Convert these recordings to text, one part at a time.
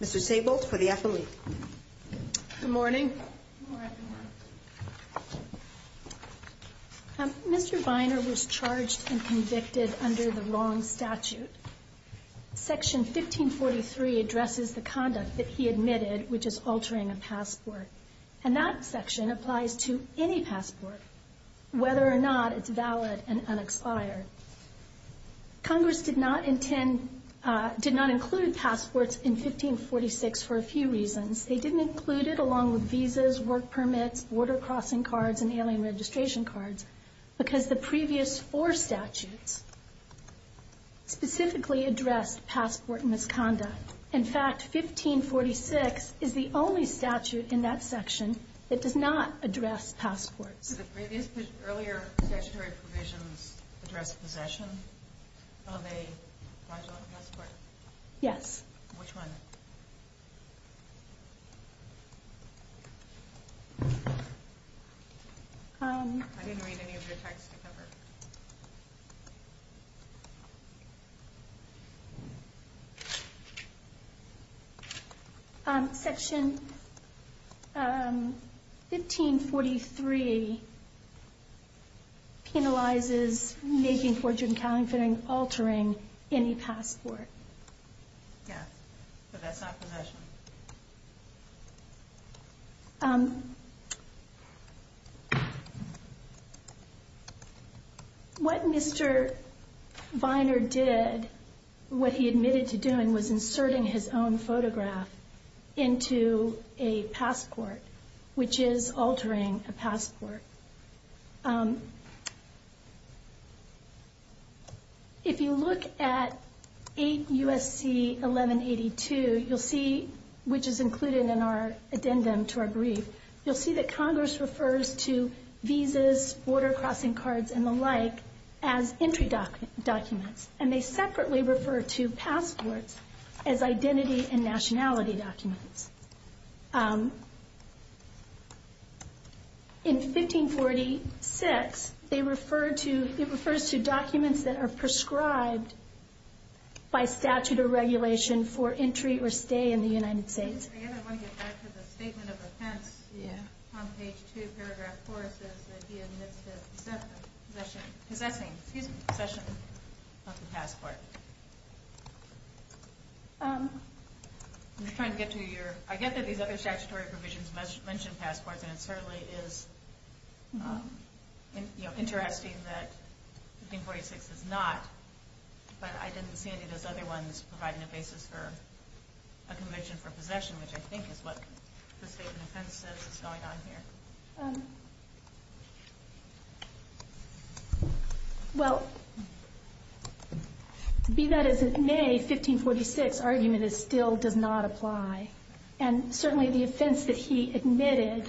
Mr. Sabolt for the affiliate. Good morning. Mr. Vyner was charged and convicted under the wrong statute. Section 1543 addresses the conduct that he admitted, which is altering a passport. And that section applies to any passport, whether or not it's valid and unexpired. Congress did not include passports in 1546 for a few reasons. They didn't include it along with visas, work permits, border crossing cards, and ailing registration cards because the previous four statutes specifically addressed passport misconduct. In fact, 1546 is the only statute in that section that does not address passports. So the previous earlier statutory provisions address possession of a fraudulent passport? Yes. Which one? I didn't read any of your text to cover. Section 1543 penalizes making forgery and counterfeiting, altering any passport. Yeah, but that's not possession. What Mr. Vyner did, what he admitted to doing, was inserting his own photograph into a passport, which is altering a passport. If you look at 8 U.S.C. 1182, which is included in our addendum to our brief, you'll see that Congress refers to visas, border crossing cards, and the like as entry documents. And they separately refer to passports as identity and nationality documents. In 1546, it refers to documents that are prescribed by statute or regulation for entry or stay in the United States. I guess I want to get back to the statement of offense on page 2, paragraph 4, says that he admits to possessing a passport. I get that these other statutory provisions mention passports, and it certainly is interesting that 1546 does not. But I didn't see any of those other ones providing a basis for a conviction for possession, which I think is what the statement of offense says is going on here. Well, be that as it may, 1546's argument still does not apply. And certainly the offense that he admitted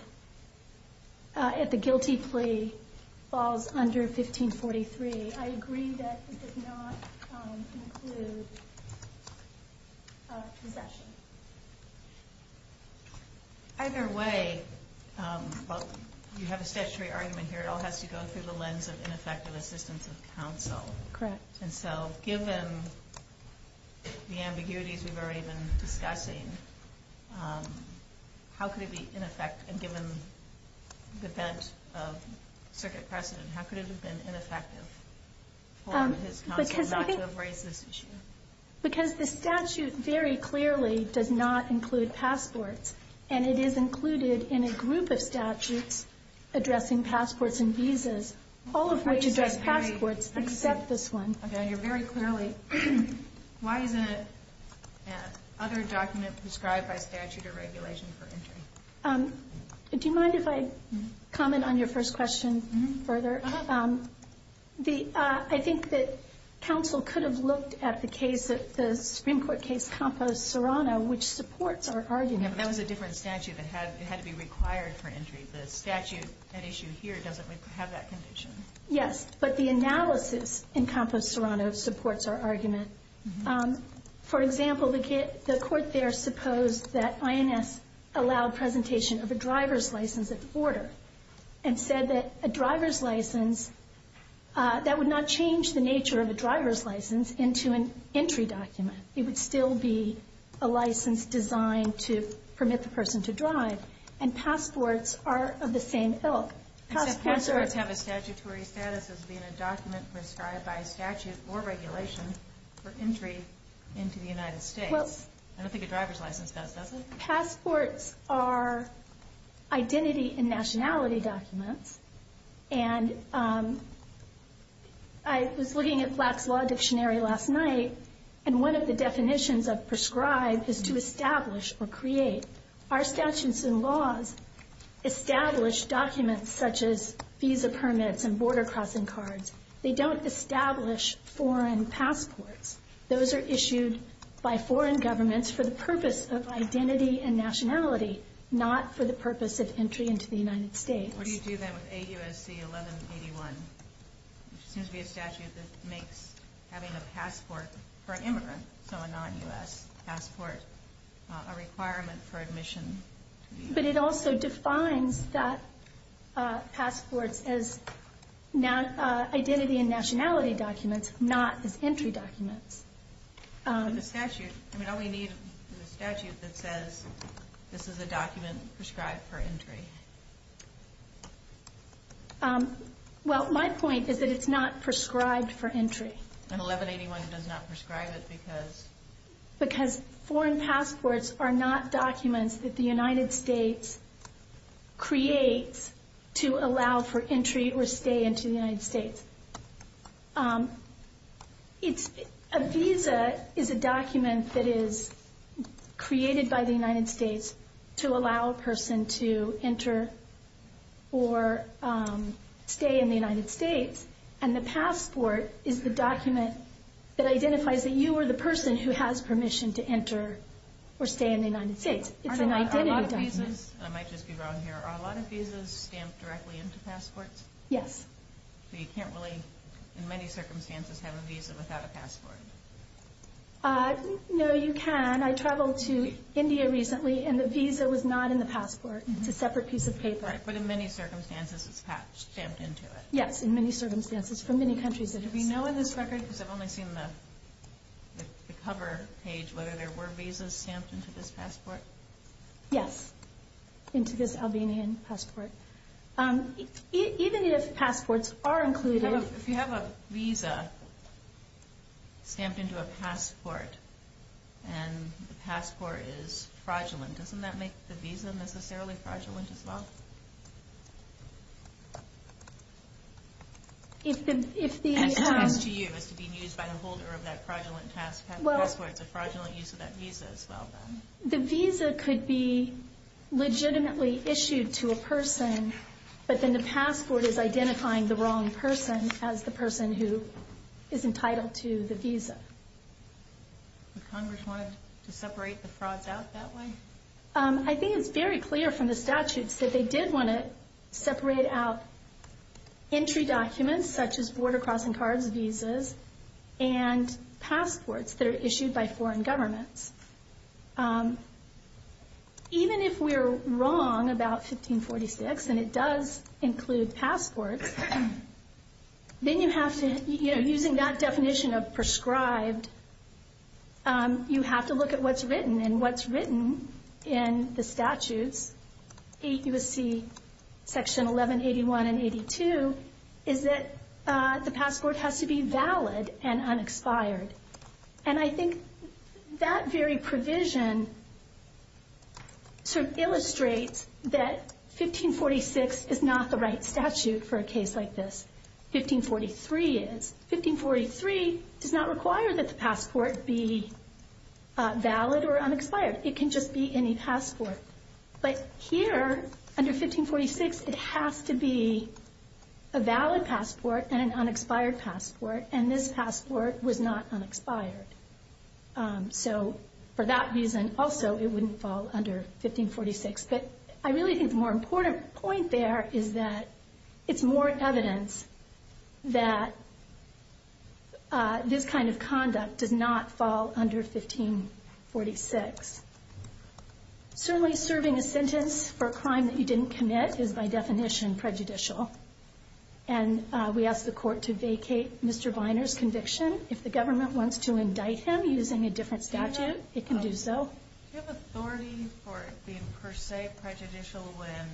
at the guilty plea falls under 1543. I agree that it did not include possession. Either way, you have a statutory argument here. It all has to go through the lens of ineffective assistance of counsel. Correct. And so given the ambiguities we've already been discussing, how could it be ineffective? And given the bent of circuit precedent, how could it have been ineffective for his counsel not to have raised this issue? Because the statute very clearly does not include passports. And it is included in a group of statutes addressing passports and visas, all of which address passports except this one. Okay. I hear very clearly. Why isn't it other document prescribed by statute or regulation for entry? Do you mind if I comment on your first question further? I think that counsel could have looked at the case, the Supreme Court case Campos-Serrano, which supports our argument. Yeah, but that was a different statute. It had to be required for entry. The statute at issue here doesn't have that condition. Yes, but the analysis in Campos-Serrano supports our argument. For example, the court there supposed that INS allowed presentation of a driver's license of order and said that a driver's license, that would not change the nature of a driver's license into an entry document. It would still be a license designed to permit the person to drive. And passports are of the same ilk. Except passports have a statutory status as being a document prescribed by statute or regulation for entry into the United States. I don't think a driver's license does, does it? Passports are identity and nationality documents. And I was looking at Black's Law Dictionary last night, and one of the definitions of prescribed is to establish or create. Our statutes and laws establish documents such as visa permits and border crossing cards. They don't establish foreign passports. Those are issued by foreign governments for the purpose of identity and nationality, not for the purpose of entry into the United States. What do you do then with AUSC 1181? It seems to be a statute that makes having a passport for an immigrant, so a non-U.S. passport, a requirement for admission. But it also defines that passports as identity and nationality documents, not as entry documents. The statute, I mean, all we need is a statute that says this is a document prescribed for entry. Well, my point is that it's not prescribed for entry. And 1181 does not prescribe it because? Because foreign passports are not documents that the United States creates to allow for entry or stay into the United States. A visa is a document that is created by the United States to allow a person to enter or stay in the United States, and the passport is the document that identifies that you are the person who has permission to enter or stay in the United States. It's an identity document. I might just be wrong here. Are a lot of visas stamped directly into passports? Yes. So you can't really, in many circumstances, have a visa without a passport? No, you can. I traveled to India recently, and the visa was not in the passport. It's a separate piece of paper. Right, but in many circumstances, it's stamped into it. Yes, in many circumstances, from many countries it is. Do we know in this record, because I've only seen the cover page, whether there were visas stamped into this passport? Yes, into this Albanian passport. Even if passports are included... If you have a visa stamped into a passport, and the passport is fraudulent, doesn't that make the visa necessarily fraudulent as well? If the... If it's used by a holder of that fraudulent passport, it's a fraudulent use of that visa as well, then? The visa could be legitimately issued to a person, but then the passport is identifying the wrong person as the person who is entitled to the visa. The Congress wanted to separate the frauds out that way? I think it's very clear from the statutes that they did want to separate out entry documents, such as border crossing cards, visas, and passports that are issued by foreign governments. Even if we're wrong about 1546, and it does include passports, then you have to, using that definition of prescribed, you have to look at what's written, and what's written in the statutes, 8 U.S.C. Section 1181 and 82, is that the passport has to be valid and unexpired. And I think that very provision sort of illustrates that 1546 is not the right statute for a case like this. 1543 is. 1543 does not require that the passport be valid or unexpired. It can just be any passport. But here, under 1546, it has to be a valid passport and an unexpired passport, and this passport was not unexpired. So for that reason, also, it wouldn't fall under 1546. But I really think the more important point there is that it's more evidence that this kind of conduct does not fall under 1546. Certainly serving a sentence for a crime that you didn't commit is, by definition, prejudicial. And we ask the court to vacate Mr. Biner's conviction. If the government wants to indict him using a different statute, it can do so. Do you have authority for it being, per se, prejudicial when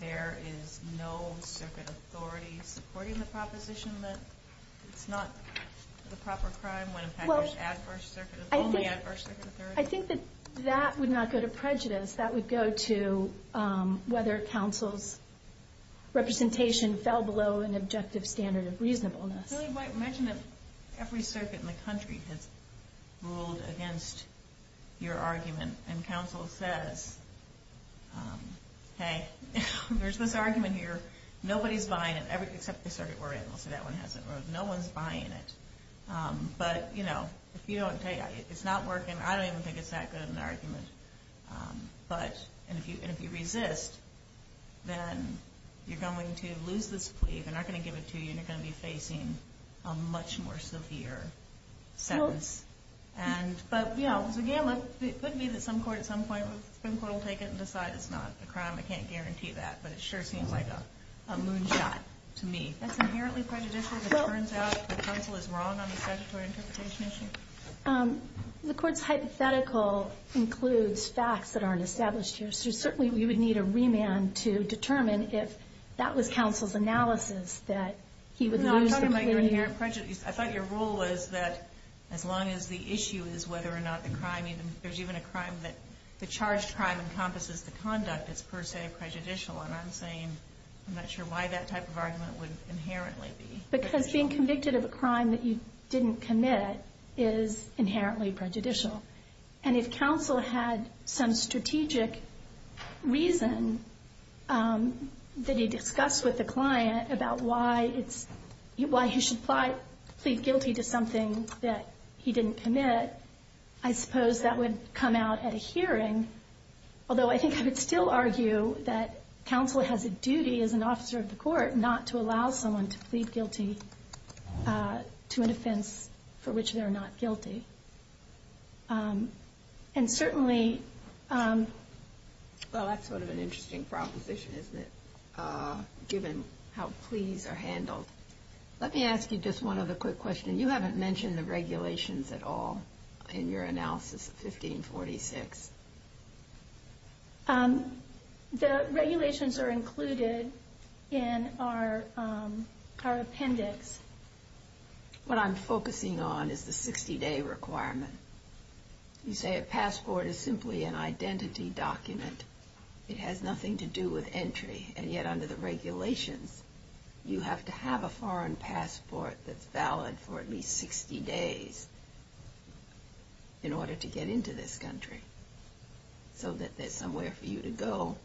there is no circuit authority supporting the proposition that it's not the proper crime when, in fact, there's only adverse circuit authority? I think that that would not go to prejudice. That would go to whether counsel's representation fell below an objective standard of reasonableness. Imagine that every circuit in the country has ruled against your argument, and counsel says, Hey, there's this argument here. Nobody's buying it, except the circuit we're in. We'll say that one hasn't ruled. No one's buying it. But, you know, it's not working. I don't even think it's that good of an argument. And if you resist, then you're going to lose this plea. They're not going to give it to you, and you're going to be facing a much more severe sentence. It could be that some court at some point will take it and decide it's not a crime. I can't guarantee that, but it sure seems like a moonshot to me. That's inherently prejudicial. It turns out that counsel is wrong on the statutory interpretation issue? The court's hypothetical includes facts that aren't established here, so certainly we would need a remand to determine if that was counsel's analysis, that he would lose the plea. I thought your rule was that as long as the issue is whether or not the crime, there's even a crime that the charged crime encompasses the conduct, it's per se prejudicial. And I'm saying I'm not sure why that type of argument would inherently be. Because being convicted of a crime that you didn't commit is inherently prejudicial. And if counsel had some strategic reason that he discussed with the client about why he should plead guilty to something that he didn't commit, I suppose that would come out at a hearing. Although I think I would still argue that counsel has a duty as an officer of the court not to allow someone to plead guilty to an offense for which they're not guilty. And certainly... Well, that's sort of an interesting proposition, isn't it? Given how pleas are handled. Let me ask you just one other quick question. You haven't mentioned the regulations at all in your analysis of 1546. The regulations are included in our appendix. What I'm focusing on is the 60-day requirement. You say a passport is simply an identity document. It has nothing to do with entry. And yet, under the regulations, you have to have a foreign passport that's valid for at least 60 days in order to get into this country. So that's somewhere for you to go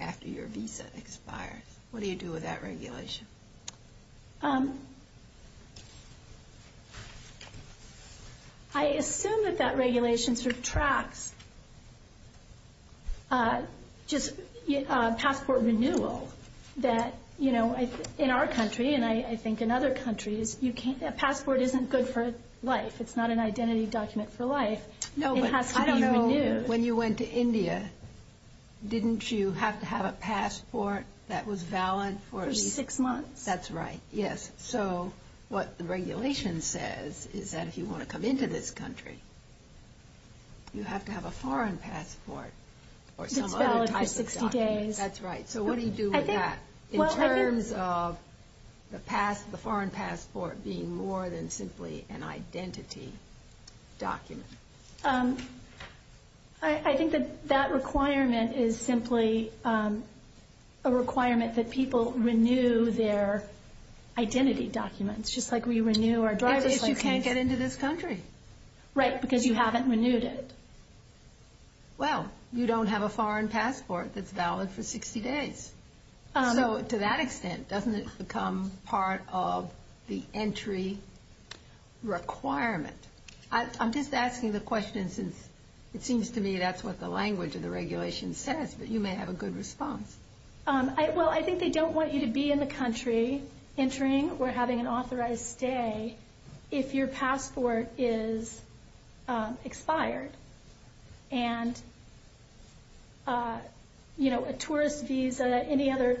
after your visa expires. What do you do with that regulation? I assume that that regulation sort of tracks... just passport renewal. That, you know, in our country, and I think in other countries, a passport isn't good for life. It's not an identity document for life. It has to be renewed. When you went to India, didn't you have to have a passport that was valid for at least... For six months. That's right, yes. So what the regulation says is that if you want to come into this country, you have to have a foreign passport or some other type of document. That's valid for 60 days. That's right. So what do you do with that in terms of the foreign passport being more than simply an identity document? I think that that requirement is simply a requirement that people renew their identity documents, just like we renew our driver's license. If you can't get into this country. Right, because you haven't renewed it. Well, you don't have a foreign passport that's valid for 60 days. So to that extent, doesn't it become part of the entry requirement? I'm just asking the question since it seems to me that's what the language of the regulation says, but you may have a good response. Well, I think they don't want you to be in the country entering or having an authorized stay if your passport is expired. And, you know, a tourist visa, any other...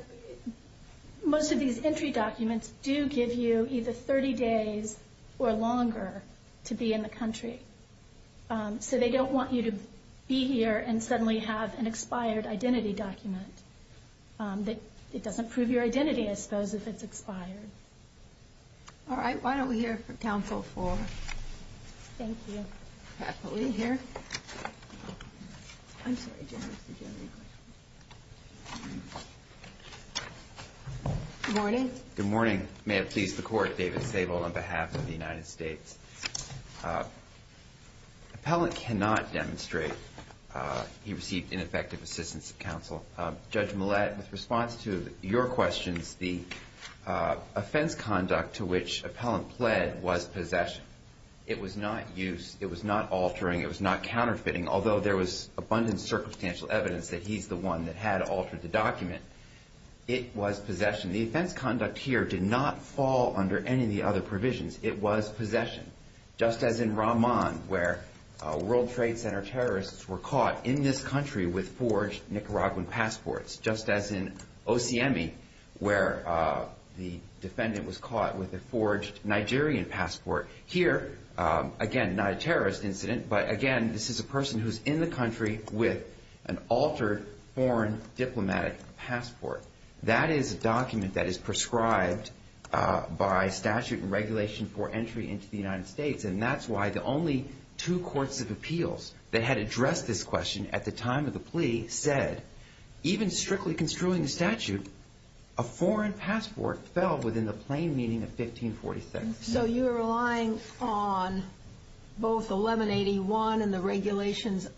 do give you either 30 days or longer to be in the country. So they don't want you to be here and suddenly have an expired identity document. It doesn't prove your identity, I suppose, if it's expired. All right, why don't we hear from Council for... Thank you. ...happily here. I'm sorry, General, did you have any questions? Good morning. Good morning. May it please the Court. David Sable on behalf of the United States. Appellant cannot demonstrate he received ineffective assistance of counsel. Judge Millett, in response to your questions, the offense conduct to which Appellant pled was possession. It was not use, it was not altering, it was not counterfeiting, although there was abundant circumstantial evidence that he's the one that had altered the document. It was possession. The offense conduct here did not fall under any of the other provisions. It was possession, just as in Ramon, where World Trade Center terrorists were caught in this country with forged Nicaraguan passports, just as in Ociemi, where the defendant was caught with a forged Nigerian passport. Here, again, not a terrorist incident, but, again, this is a person who's in the country with an altered foreign diplomatic passport. That is a document that is prescribed by statute and regulation for entry into the United States, and that's why the only two courts of appeals that had addressed this question at the time of the plea said, even strictly construing the statute, a foreign passport fell within the plain meaning of 1546. So you're relying on both 1181 and the regulations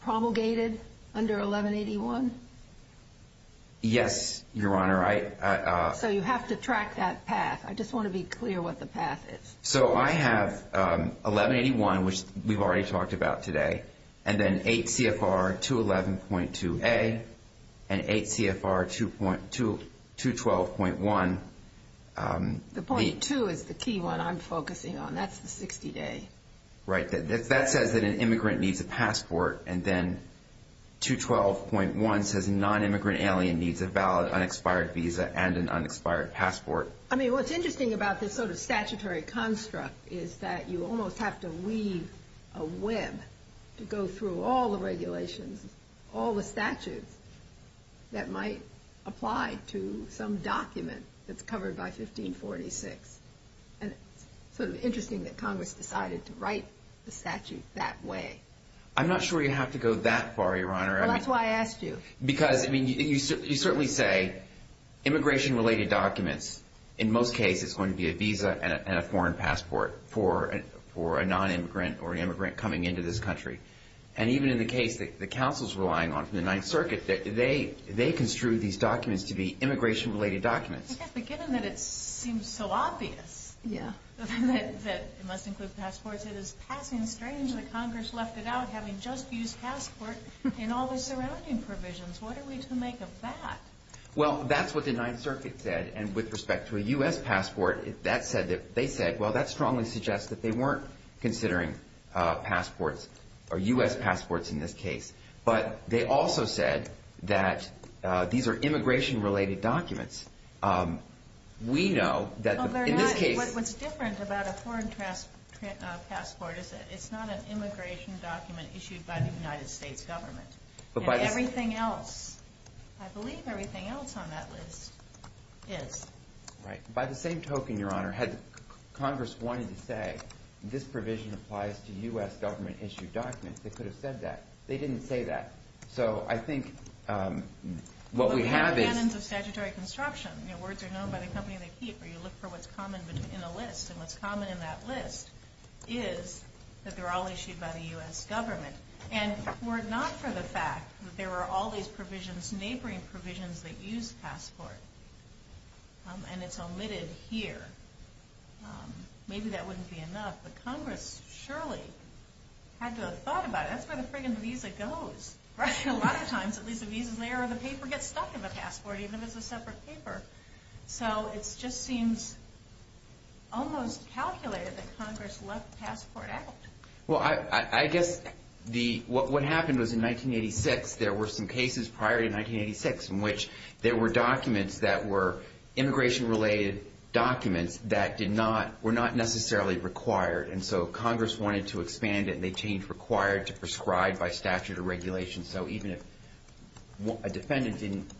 promulgated under 1181? Yes, Your Honor. So you have to track that path. I just want to be clear what the path is. So I have 1181, which we've already talked about today, and then 8 CFR 211.2A and 8 CFR 212.1. The .2 is the key one I'm focusing on. That's the 60-day. Right. That says that an immigrant needs a passport, and then 212.1 says a nonimmigrant alien needs a valid unexpired visa and an unexpired passport. I mean, what's interesting about this sort of statutory construct is that you almost have to weave a web to go through all the regulations, all the statutes that might apply to some document that's covered by 1546. And it's sort of interesting that Congress decided to write the statute that way. I'm not sure you have to go that far, Your Honor. Well, that's why I asked you. Because, I mean, you certainly say immigration-related documents. In most cases, it's going to be a visa and a foreign passport for a nonimmigrant or an immigrant coming into this country. And even in the case that the counsel's relying on from the Ninth Circuit, they construed these documents to be immigration-related documents. But given that it seems so obvious that it must include passports, it is passing strange that Congress left it out, having just used passport in all the surrounding provisions. What are we to make of that? Well, that's what the Ninth Circuit said. And with respect to a U.S. passport, they said, well, that strongly suggests that they weren't considering passports, or U.S. passports in this case. But they also said that these are immigration-related documents. We know that in this case. What's different about a foreign passport is that it's not an immigration document issued by the United States government. Everything else, I believe everything else on that list is. Right. By the same token, Your Honor, had Congress wanted to say, this provision applies to U.S. government-issued documents, they could have said that. They didn't say that. So I think what we have is. Well, we have canons of statutory construction. Words are known by the company they keep where you look for what's common in a list. And what's common in that list is that they're all issued by the U.S. government. And were it not for the fact that there were all these provisions, these neighboring provisions that use passport, and it's omitted here, maybe that wouldn't be enough. But Congress surely had to have thought about it. That's where the friggin' visa goes. A lot of times, at least a visa's there, or the paper gets stuck in the passport, even if it's a separate paper. So it just seems almost calculated that Congress left passport out. Well, I guess what happened was in 1986, there were some cases prior to 1986 in which there were documents that were immigration-related documents that were not necessarily required. And so Congress wanted to expand it, and they changed required to prescribed by statute or regulation. So even if a defendant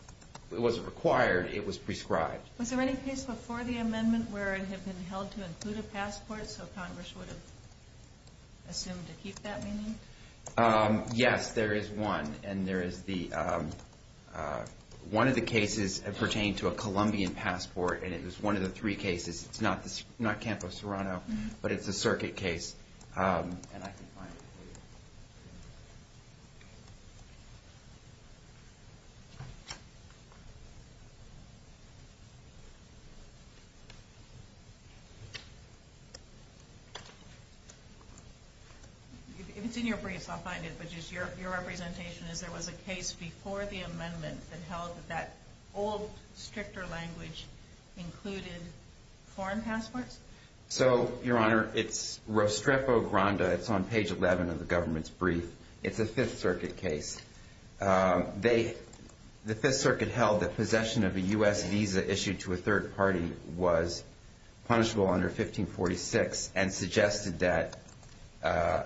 wasn't required, it was prescribed. Was there any case before the amendment where it had been held to include a passport, so Congress would have assumed to keep that meaning? Yes, there is one. One of the cases pertained to a Colombian passport, and it was one of the three cases. It's not Campo Serrano, but it's a circuit case. And I can find it for you. If it's in your briefs, I'll find it. But just your representation is there was a case before the amendment that held that that old, stricter language included foreign passports? So, Your Honor, it's Rostrepo Granda. It's a case that was held prior to the amendment. It's a Fifth Circuit case. The Fifth Circuit held that possession of a U.S. visa issued to a third party was punishable under 1546 and suggested that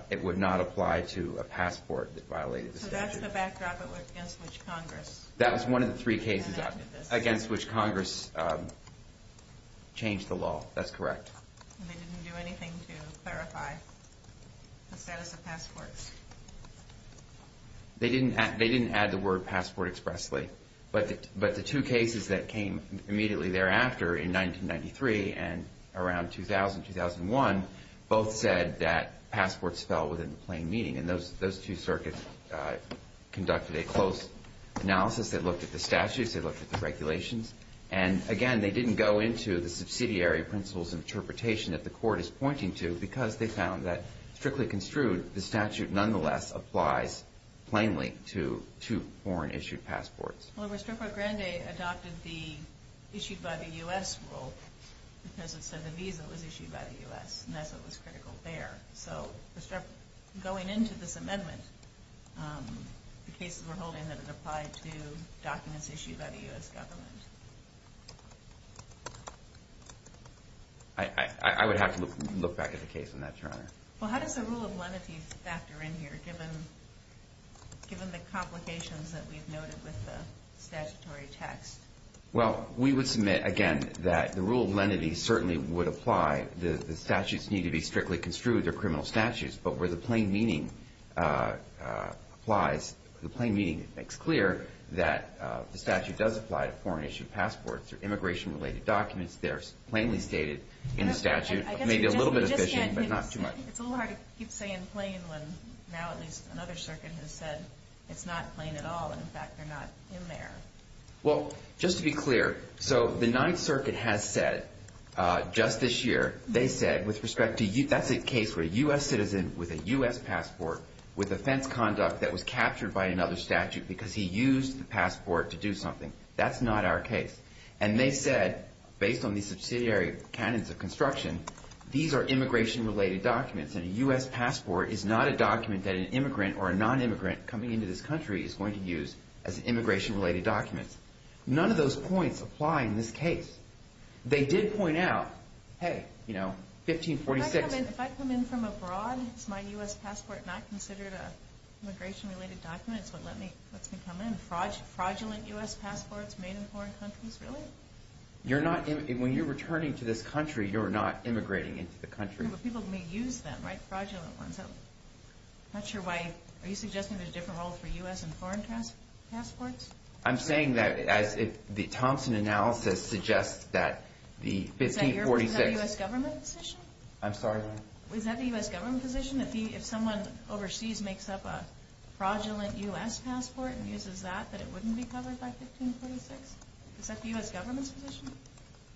it would not apply to a passport that violated the statute. So that's the backdrop against which Congress enacted this? That was one of the three cases against which Congress changed the law. That's correct. And they didn't do anything to clarify the status of passports? They didn't add the word passport expressly. But the two cases that came immediately thereafter in 1993 and around 2000, 2001, both said that passports fell within the plain meaning. And those two circuits conducted a close analysis. They looked at the statutes. They looked at the regulations. And, again, they didn't go into the subsidiary principles and interpretation that the Court is pointing to because they found that, strictly construed, the statute nonetheless applies plainly to foreign-issued passports. Well, Rostrepo Granda adopted the issued by the U.S. rule because it said the visa was issued by the U.S., and that's what was critical there. So, Rostrepo, going into this amendment, the cases we're holding that it applied to documents issued by the U.S. government I would have to look back at the case on that, Your Honor. Well, how does the rule of lenity factor in here given the complications that we've noted with the statutory text? Well, we would submit, again, that the rule of lenity certainly would apply. The statutes need to be strictly construed. They're criminal statutes. But where the plain meaning applies, it makes clear that the statute does apply to foreign-issued passports or immigration-related documents. They're plainly stated in the statute. Maybe a little bit of fishing, but not too much. It's a little hard to keep saying plain when now at least another circuit has said it's not plain at all and, in fact, they're not in there. Well, just to be clear, so the Ninth Circuit has said just this year, they said with respect to U.S. That's a case where a U.S. citizen with a U.S. passport with offense conduct that was captured by another statute because he used the passport to do something. That's not our case. And they said, based on these subsidiary canons of construction, these are immigration-related documents, and a U.S. passport is not a document that an immigrant or a non-immigrant coming into this country is going to use as immigration-related documents. None of those points apply in this case. They did point out, hey, you know, 1546. If I come in from abroad, is my U.S. passport not considered an immigration-related document? It's what lets me come in. Fraudulent U.S. passports made in foreign countries, really? When you're returning to this country, you're not immigrating into the country. People may use them, right, fraudulent ones. I'm not sure why. Are you suggesting there's a different role for U.S. and foreign passports? I'm saying that, as the Thompson analysis suggests, that the 1546. Is that the U.S. government position? I'm sorry? Is that the U.S. government position? If someone overseas makes up a fraudulent U.S. passport and uses that, that it wouldn't be covered by 1546? Is that the U.S. government's position?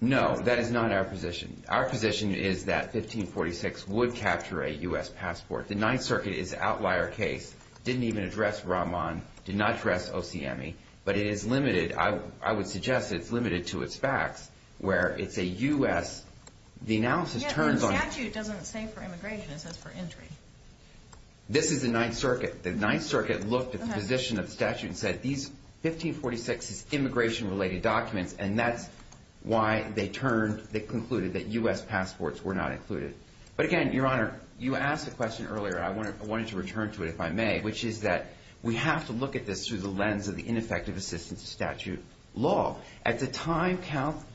No, that is not our position. Our position is that 1546 would capture a U.S. passport. The Ninth Circuit is an outlier case. It didn't even address Rahman. It did not address OCME. But it is limited. I would suggest it's limited to its facts, where it's a U.S. The analysis turns on. The statute doesn't say for immigration. It says for entry. This is the Ninth Circuit. The Ninth Circuit looked at the position of the statute and said, These 1546 is immigration-related documents, and that's why they concluded that U.S. passports were not included. But, again, Your Honor, you asked a question earlier. I wanted to return to it, if I may, which is that we have to look at this through the lens of the ineffective assistance of statute law. At the time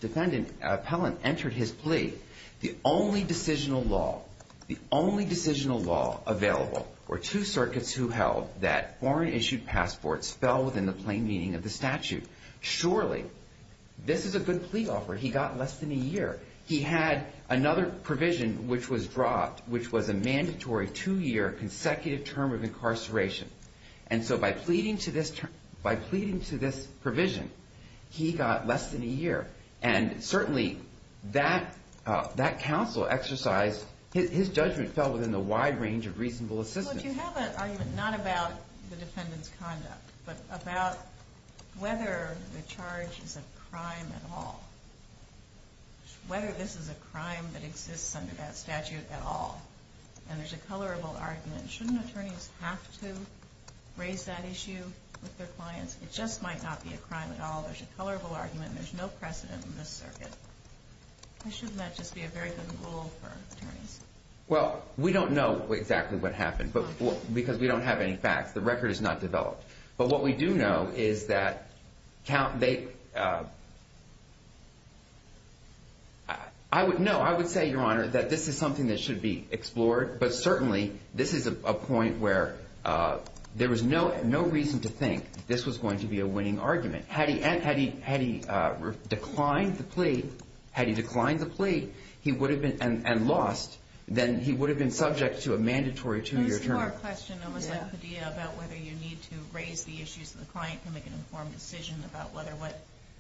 defendant Appellant entered his plea, the only decisional law available were two circuits who held that foreign-issued passports fell within the plain meaning of the statute. Surely this is a good plea offer. He got less than a year. He had another provision, which was dropped, which was a mandatory two-year consecutive term of incarceration. And so by pleading to this provision, he got less than a year. And certainly that counsel exercised his judgment fell within the wide range of reasonable assistance. But you have an argument not about the defendant's conduct, but about whether the charge is a crime at all, whether this is a crime that exists under that statute at all. And there's a colorable argument. Shouldn't attorneys have to raise that issue with their clients? It just might not be a crime at all. There's a colorable argument. There's no precedent in this circuit. Shouldn't that just be a very good rule for attorneys? Well, we don't know exactly what happened because we don't have any facts. The record is not developed. But what we do know is that this is something that should be explored. But certainly this is a point where there was no reason to think this was going to be a winning argument. Had he declined the plea and lost, then he would have been subject to a mandatory two-year term. I have one more question, almost like Padilla, about whether you need to raise the issues with the client to make an informed decision about whether what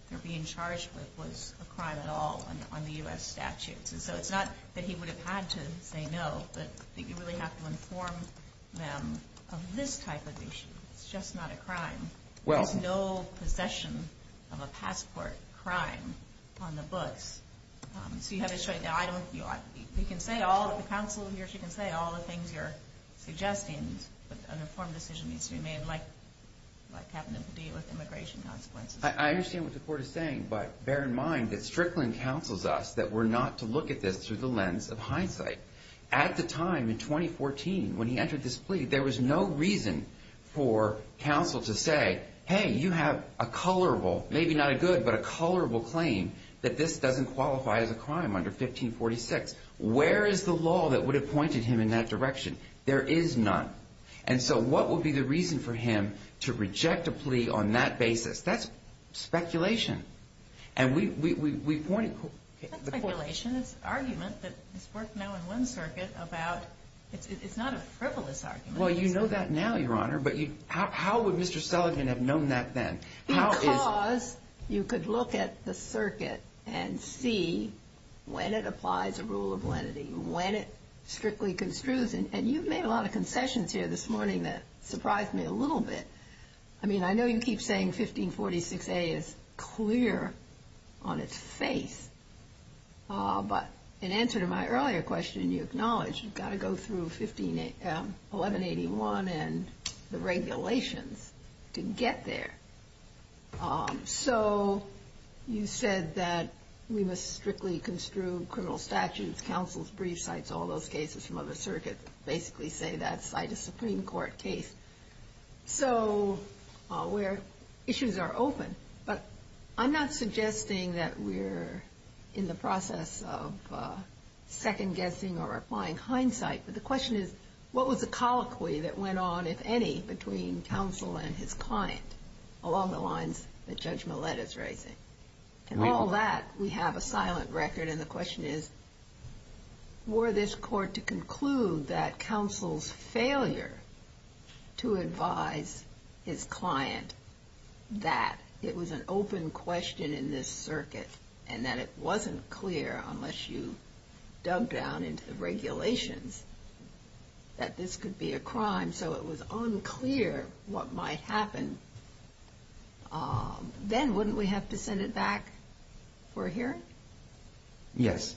they're being charged with was a crime at all on the U.S. statutes. And so it's not that he would have had to say no, but you really have to inform them of this type of issue. It's just not a crime. There's no possession of a passport crime on the books. So you have to show it. You can say all that the counsel hears, you can say all the things you're suggesting, but an informed decision needs to be made, like happened in Padilla with immigration consequences. I understand what the Court is saying, but bear in mind that Strickland counsels us that we're not to look at this through the lens of hindsight. At the time, in 2014, when he entered this plea, there was no reason for counsel to say, hey, you have a colorable, maybe not a good, but a colorable claim that this doesn't qualify as a crime under 1546. Where is the law that would have pointed him in that direction? There is none. And so what would be the reason for him to reject a plea on that basis? That's speculation. And we pointed... It's not speculation. It's an argument that's worked now in one circuit about, it's not a frivolous argument. Well, you know that now, Your Honor, but how would Mr. Sullivan have known that then? Because you could look at the circuit and see when it applies a rule of lenity, when it strictly construes, and you've made a lot of concessions here this morning that surprised me a little bit. I mean, I know you keep saying 1546a is clear on its face, but in answer to my earlier question, you acknowledge you've got to go through 1181 and the regulations to get there. So you said that we must strictly construe criminal statutes, counsels' briefs, cites all those cases from other circuits, basically say that cite a Supreme Court case. So issues are open, but I'm not suggesting that we're in the process of second-guessing or applying hindsight, but the question is what was the colloquy that went on, if any, between counsel and his client along the lines that Judge Millett is raising? And all that we have a silent record, and the question is were this court to conclude that counsel's failure to advise his client that it was an open question in this circuit and that it wasn't clear unless you dug down into the regulations that this could be a crime, so it was unclear what might happen, then wouldn't we have to send it back for a hearing? Yes.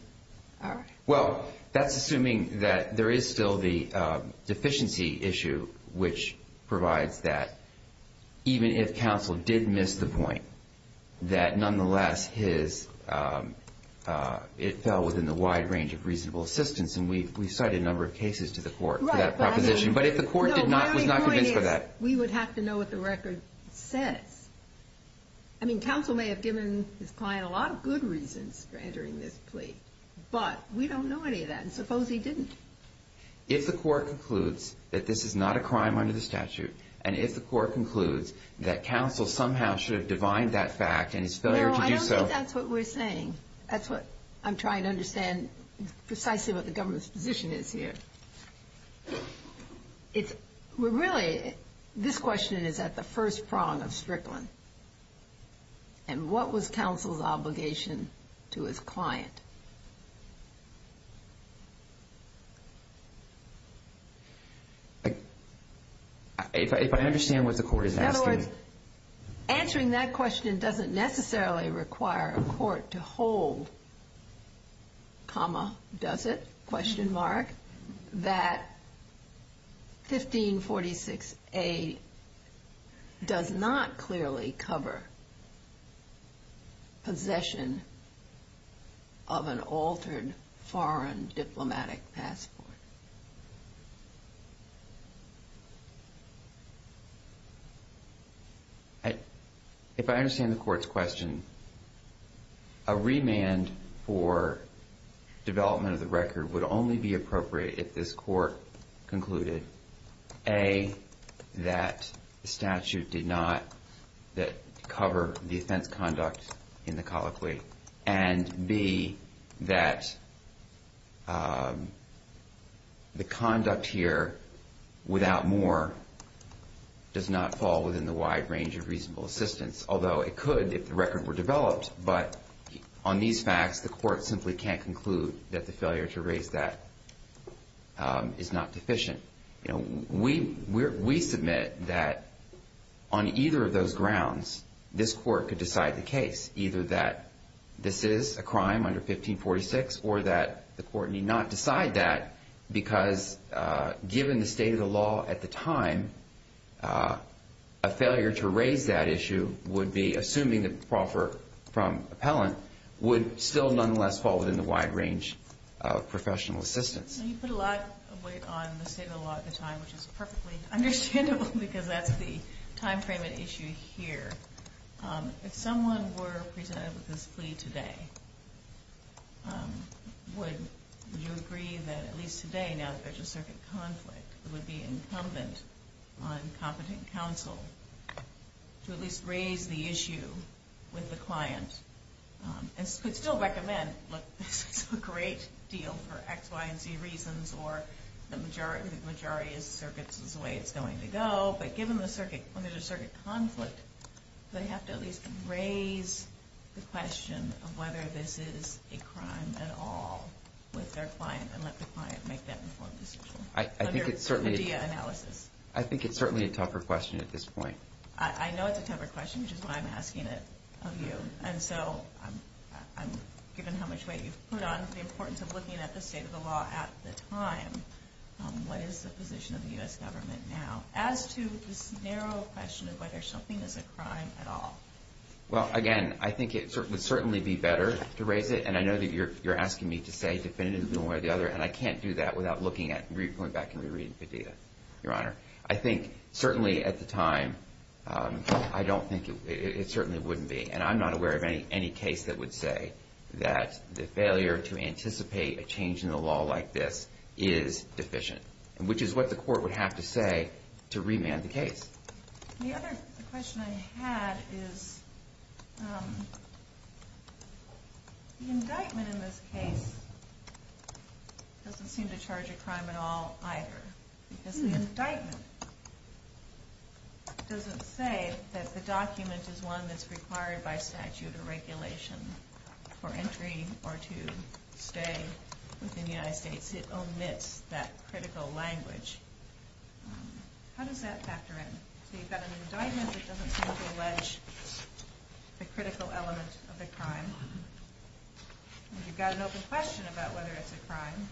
All right. Well, that's assuming that there is still the deficiency issue which provides that even if counsel did miss the point, that nonetheless it fell within the wide range of reasonable assistance, and we cited a number of cases to the court for that proposition, but if the court was not convinced of that. No, my point is we would have to know what the record says. I mean, counsel may have given his client a lot of good reasons for entering this plea, but we don't know any of that, and suppose he didn't. If the court concludes that this is not a crime under the statute and if the court concludes that counsel somehow should have divined that fact and his failure to do so. No, I don't think that's what we're saying. That's what I'm trying to understand precisely what the government's position is here. Really, this question is at the first prong of Strickland, and what was counsel's obligation to his client? If I understand what the court is asking. In other words, answering that question doesn't necessarily require a court to hold, comma, does it, question mark, that 1546A does not clearly cover possession of an altered foreign diplomatic passport. If I understand the court's question, a remand for development of the record would only be appropriate if this court concluded A, that the statute did not cover the offense conduct in the colloquy, and B, that the conduct here, without more, does not fall within the wide range of reasonable assistance. Although it could if the record were developed, but on these facts, the court simply can't conclude that the failure to raise that is not deficient. We submit that on either of those grounds, this court could decide the case, either that this is a crime under 1546 or that the court need not decide that because given the state of the law at the time, a failure to raise that issue would be, assuming the proffer from appellant, would still nonetheless fall within the wide range of professional assistance. You put a lot of weight on the state of the law at the time, which is perfectly understandable because that's the time frame at issue here. If someone were presented with this plea today, would you agree that at least today, now that there's a circuit conflict, it would be incumbent on competent counsel to at least raise the issue with the client and still recommend, look, this is a great deal for X, Y, and Z reasons or the majority of circuits is the way it's going to go. But given the circuit, when there's a circuit conflict, they have to at least raise the question of whether this is a crime at all with their client and let the client make that informed decision under the DIA analysis. I think it's certainly a tougher question at this point. I know it's a tougher question, which is why I'm asking it of you. And so given how much weight you've put on the importance of looking at the state of the law at the time, what is the position of the U.S. government now as to this narrow question of whether something is a crime at all? Well, again, I think it would certainly be better to raise it, and I know that you're asking me to say definitively one way or the other, and I can't do that without going back and rereading the data, Your Honor. I think certainly at the time, I don't think it certainly wouldn't be, and I'm not aware of any case that would say that the failure to anticipate a change in the law like this is deficient, which is what the court would have to say to remand the case. The other question I had is the indictment in this case doesn't seem to charge a crime at all either because the indictment doesn't say that the document is one that's required by statute or regulation for entry or to stay within the United States. It omits that critical language. How does that factor in? So you've got an indictment that doesn't seem to allege the critical element of the crime, and you've got an open question about whether it's a crime.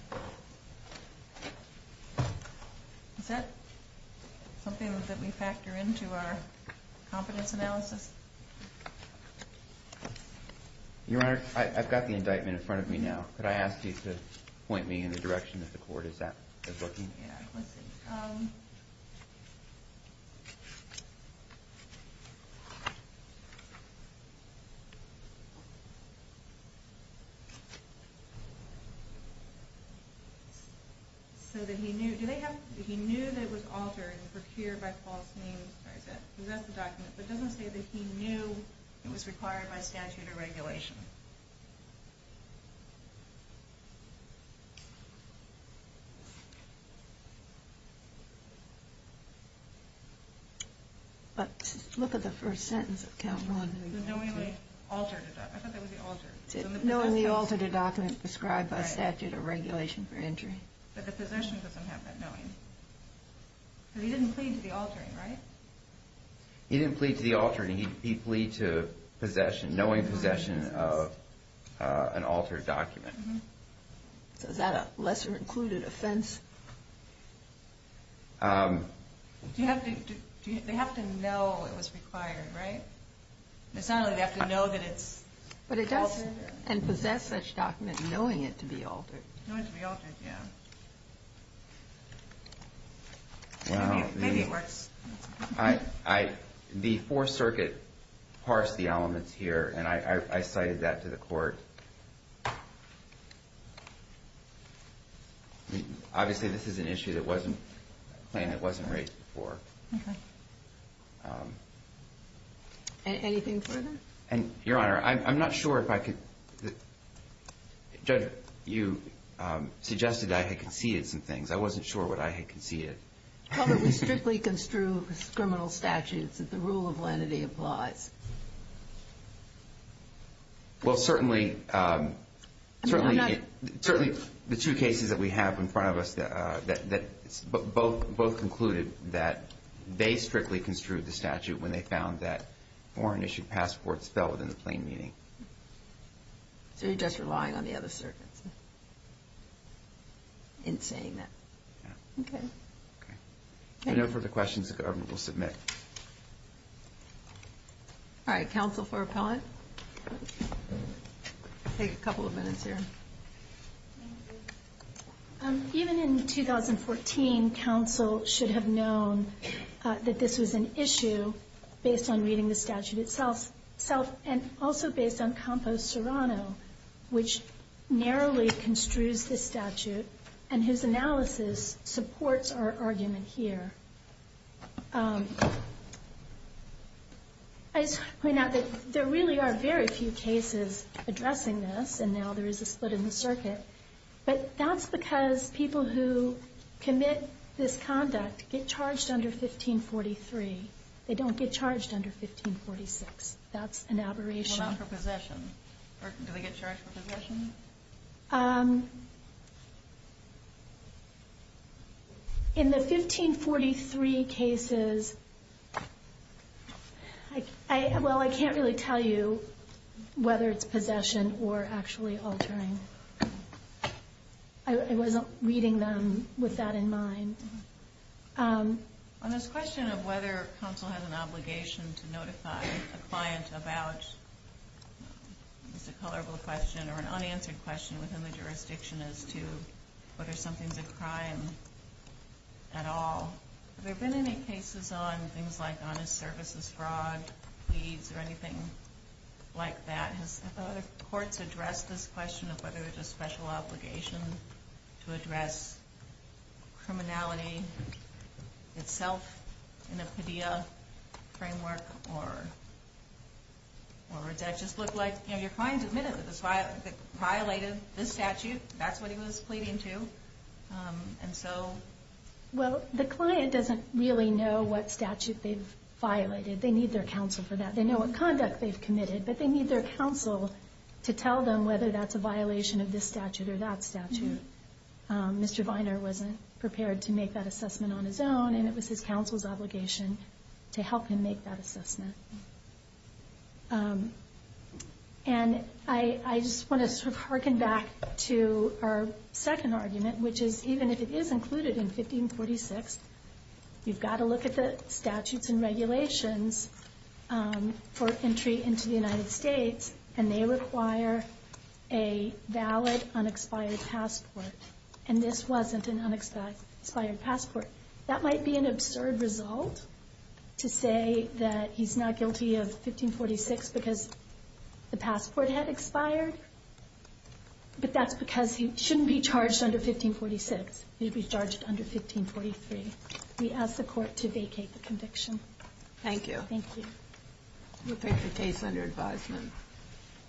Is that something that we factor into our confidence analysis? Your Honor, I've got the indictment in front of me now. Could I ask you to point me in the direction that the court is looking? Let's see. So he knew that it was altered and procured by false names, but it doesn't say that he knew it was required by statute or regulation. But look at the first sentence of count one. The knowingly altered, I thought that was the altered. Knowingly altered a document prescribed by statute or regulation for entry. But the possession doesn't have that knowing. But he didn't plead to the altering, right? He didn't plead to the altering. He plead to possession, knowing possession of an altered document. So is that a lesser included offense? They have to know it was required, right? And possess such document knowing it to be altered. The Fourth Circuit parsed the elements here, and I cited that to the court. Obviously, this is an issue that wasn't raised before. Anything further? Your Honor, I'm not sure if I could. Judge, you suggested I had conceded some things. I wasn't sure what I had conceded. Well, but we strictly construe criminal statutes that the rule of lenity applies. Well, certainly the two cases that we have in front of us, both concluded that they strictly construed the statute when they found that foreign-issued passports fell within the plain meaning. So you're just relying on the other circuits in saying that? Yeah. Okay. If there are no further questions, the government will submit. All right, counsel for appellant. Take a couple of minutes here. Even in 2014, counsel should have known that this was an issue based on reading the statute itself and also based on Campos Serrano, which narrowly construes this statute and whose analysis supports our argument here. I just want to point out that there really are very few cases addressing this, and now there is a split in the circuit. But that's because people who commit this conduct get charged under 1543. They don't get charged under 1546. That's an aberration. Well, not for possession. Do they get charged for possession? In the 1543 cases, well, I can't really tell you whether it's possession or actually altering. I wasn't reading them with that in mind. On this question of whether counsel has an obligation to notify a client about, it's a colorful question, or an unanswered question within the jurisdiction as to whether something's a crime at all, have there been any cases on things like honest services fraud, or anything like that? Have other courts addressed this question of whether it's a special obligation to address criminality itself in a PIDEA framework, or does that just look like, you know, your client admitted that violated this statute. That's what he was pleading to. Well, the client doesn't really know what statute they've violated. They need their counsel for that. They know what conduct they've committed, but they need their counsel to tell them whether that's a violation of this statute or that statute. Mr. Viner wasn't prepared to make that assessment on his own, and it was his counsel's obligation to help him make that assessment. And I just want to sort of hearken back to our second argument, which is even if it is included in 1546, you've got to look at the statutes and regulations for entry into the United States, and they require a valid unexpired passport, and this wasn't an unexpired passport. That might be an absurd result to say that he's not guilty of 1546 because the passport had expired, but that's because he shouldn't be charged under 1546. He should be charged under 1543. We ask the Court to vacate the conviction. Thank you. Thank you. We'll take the case under advisement.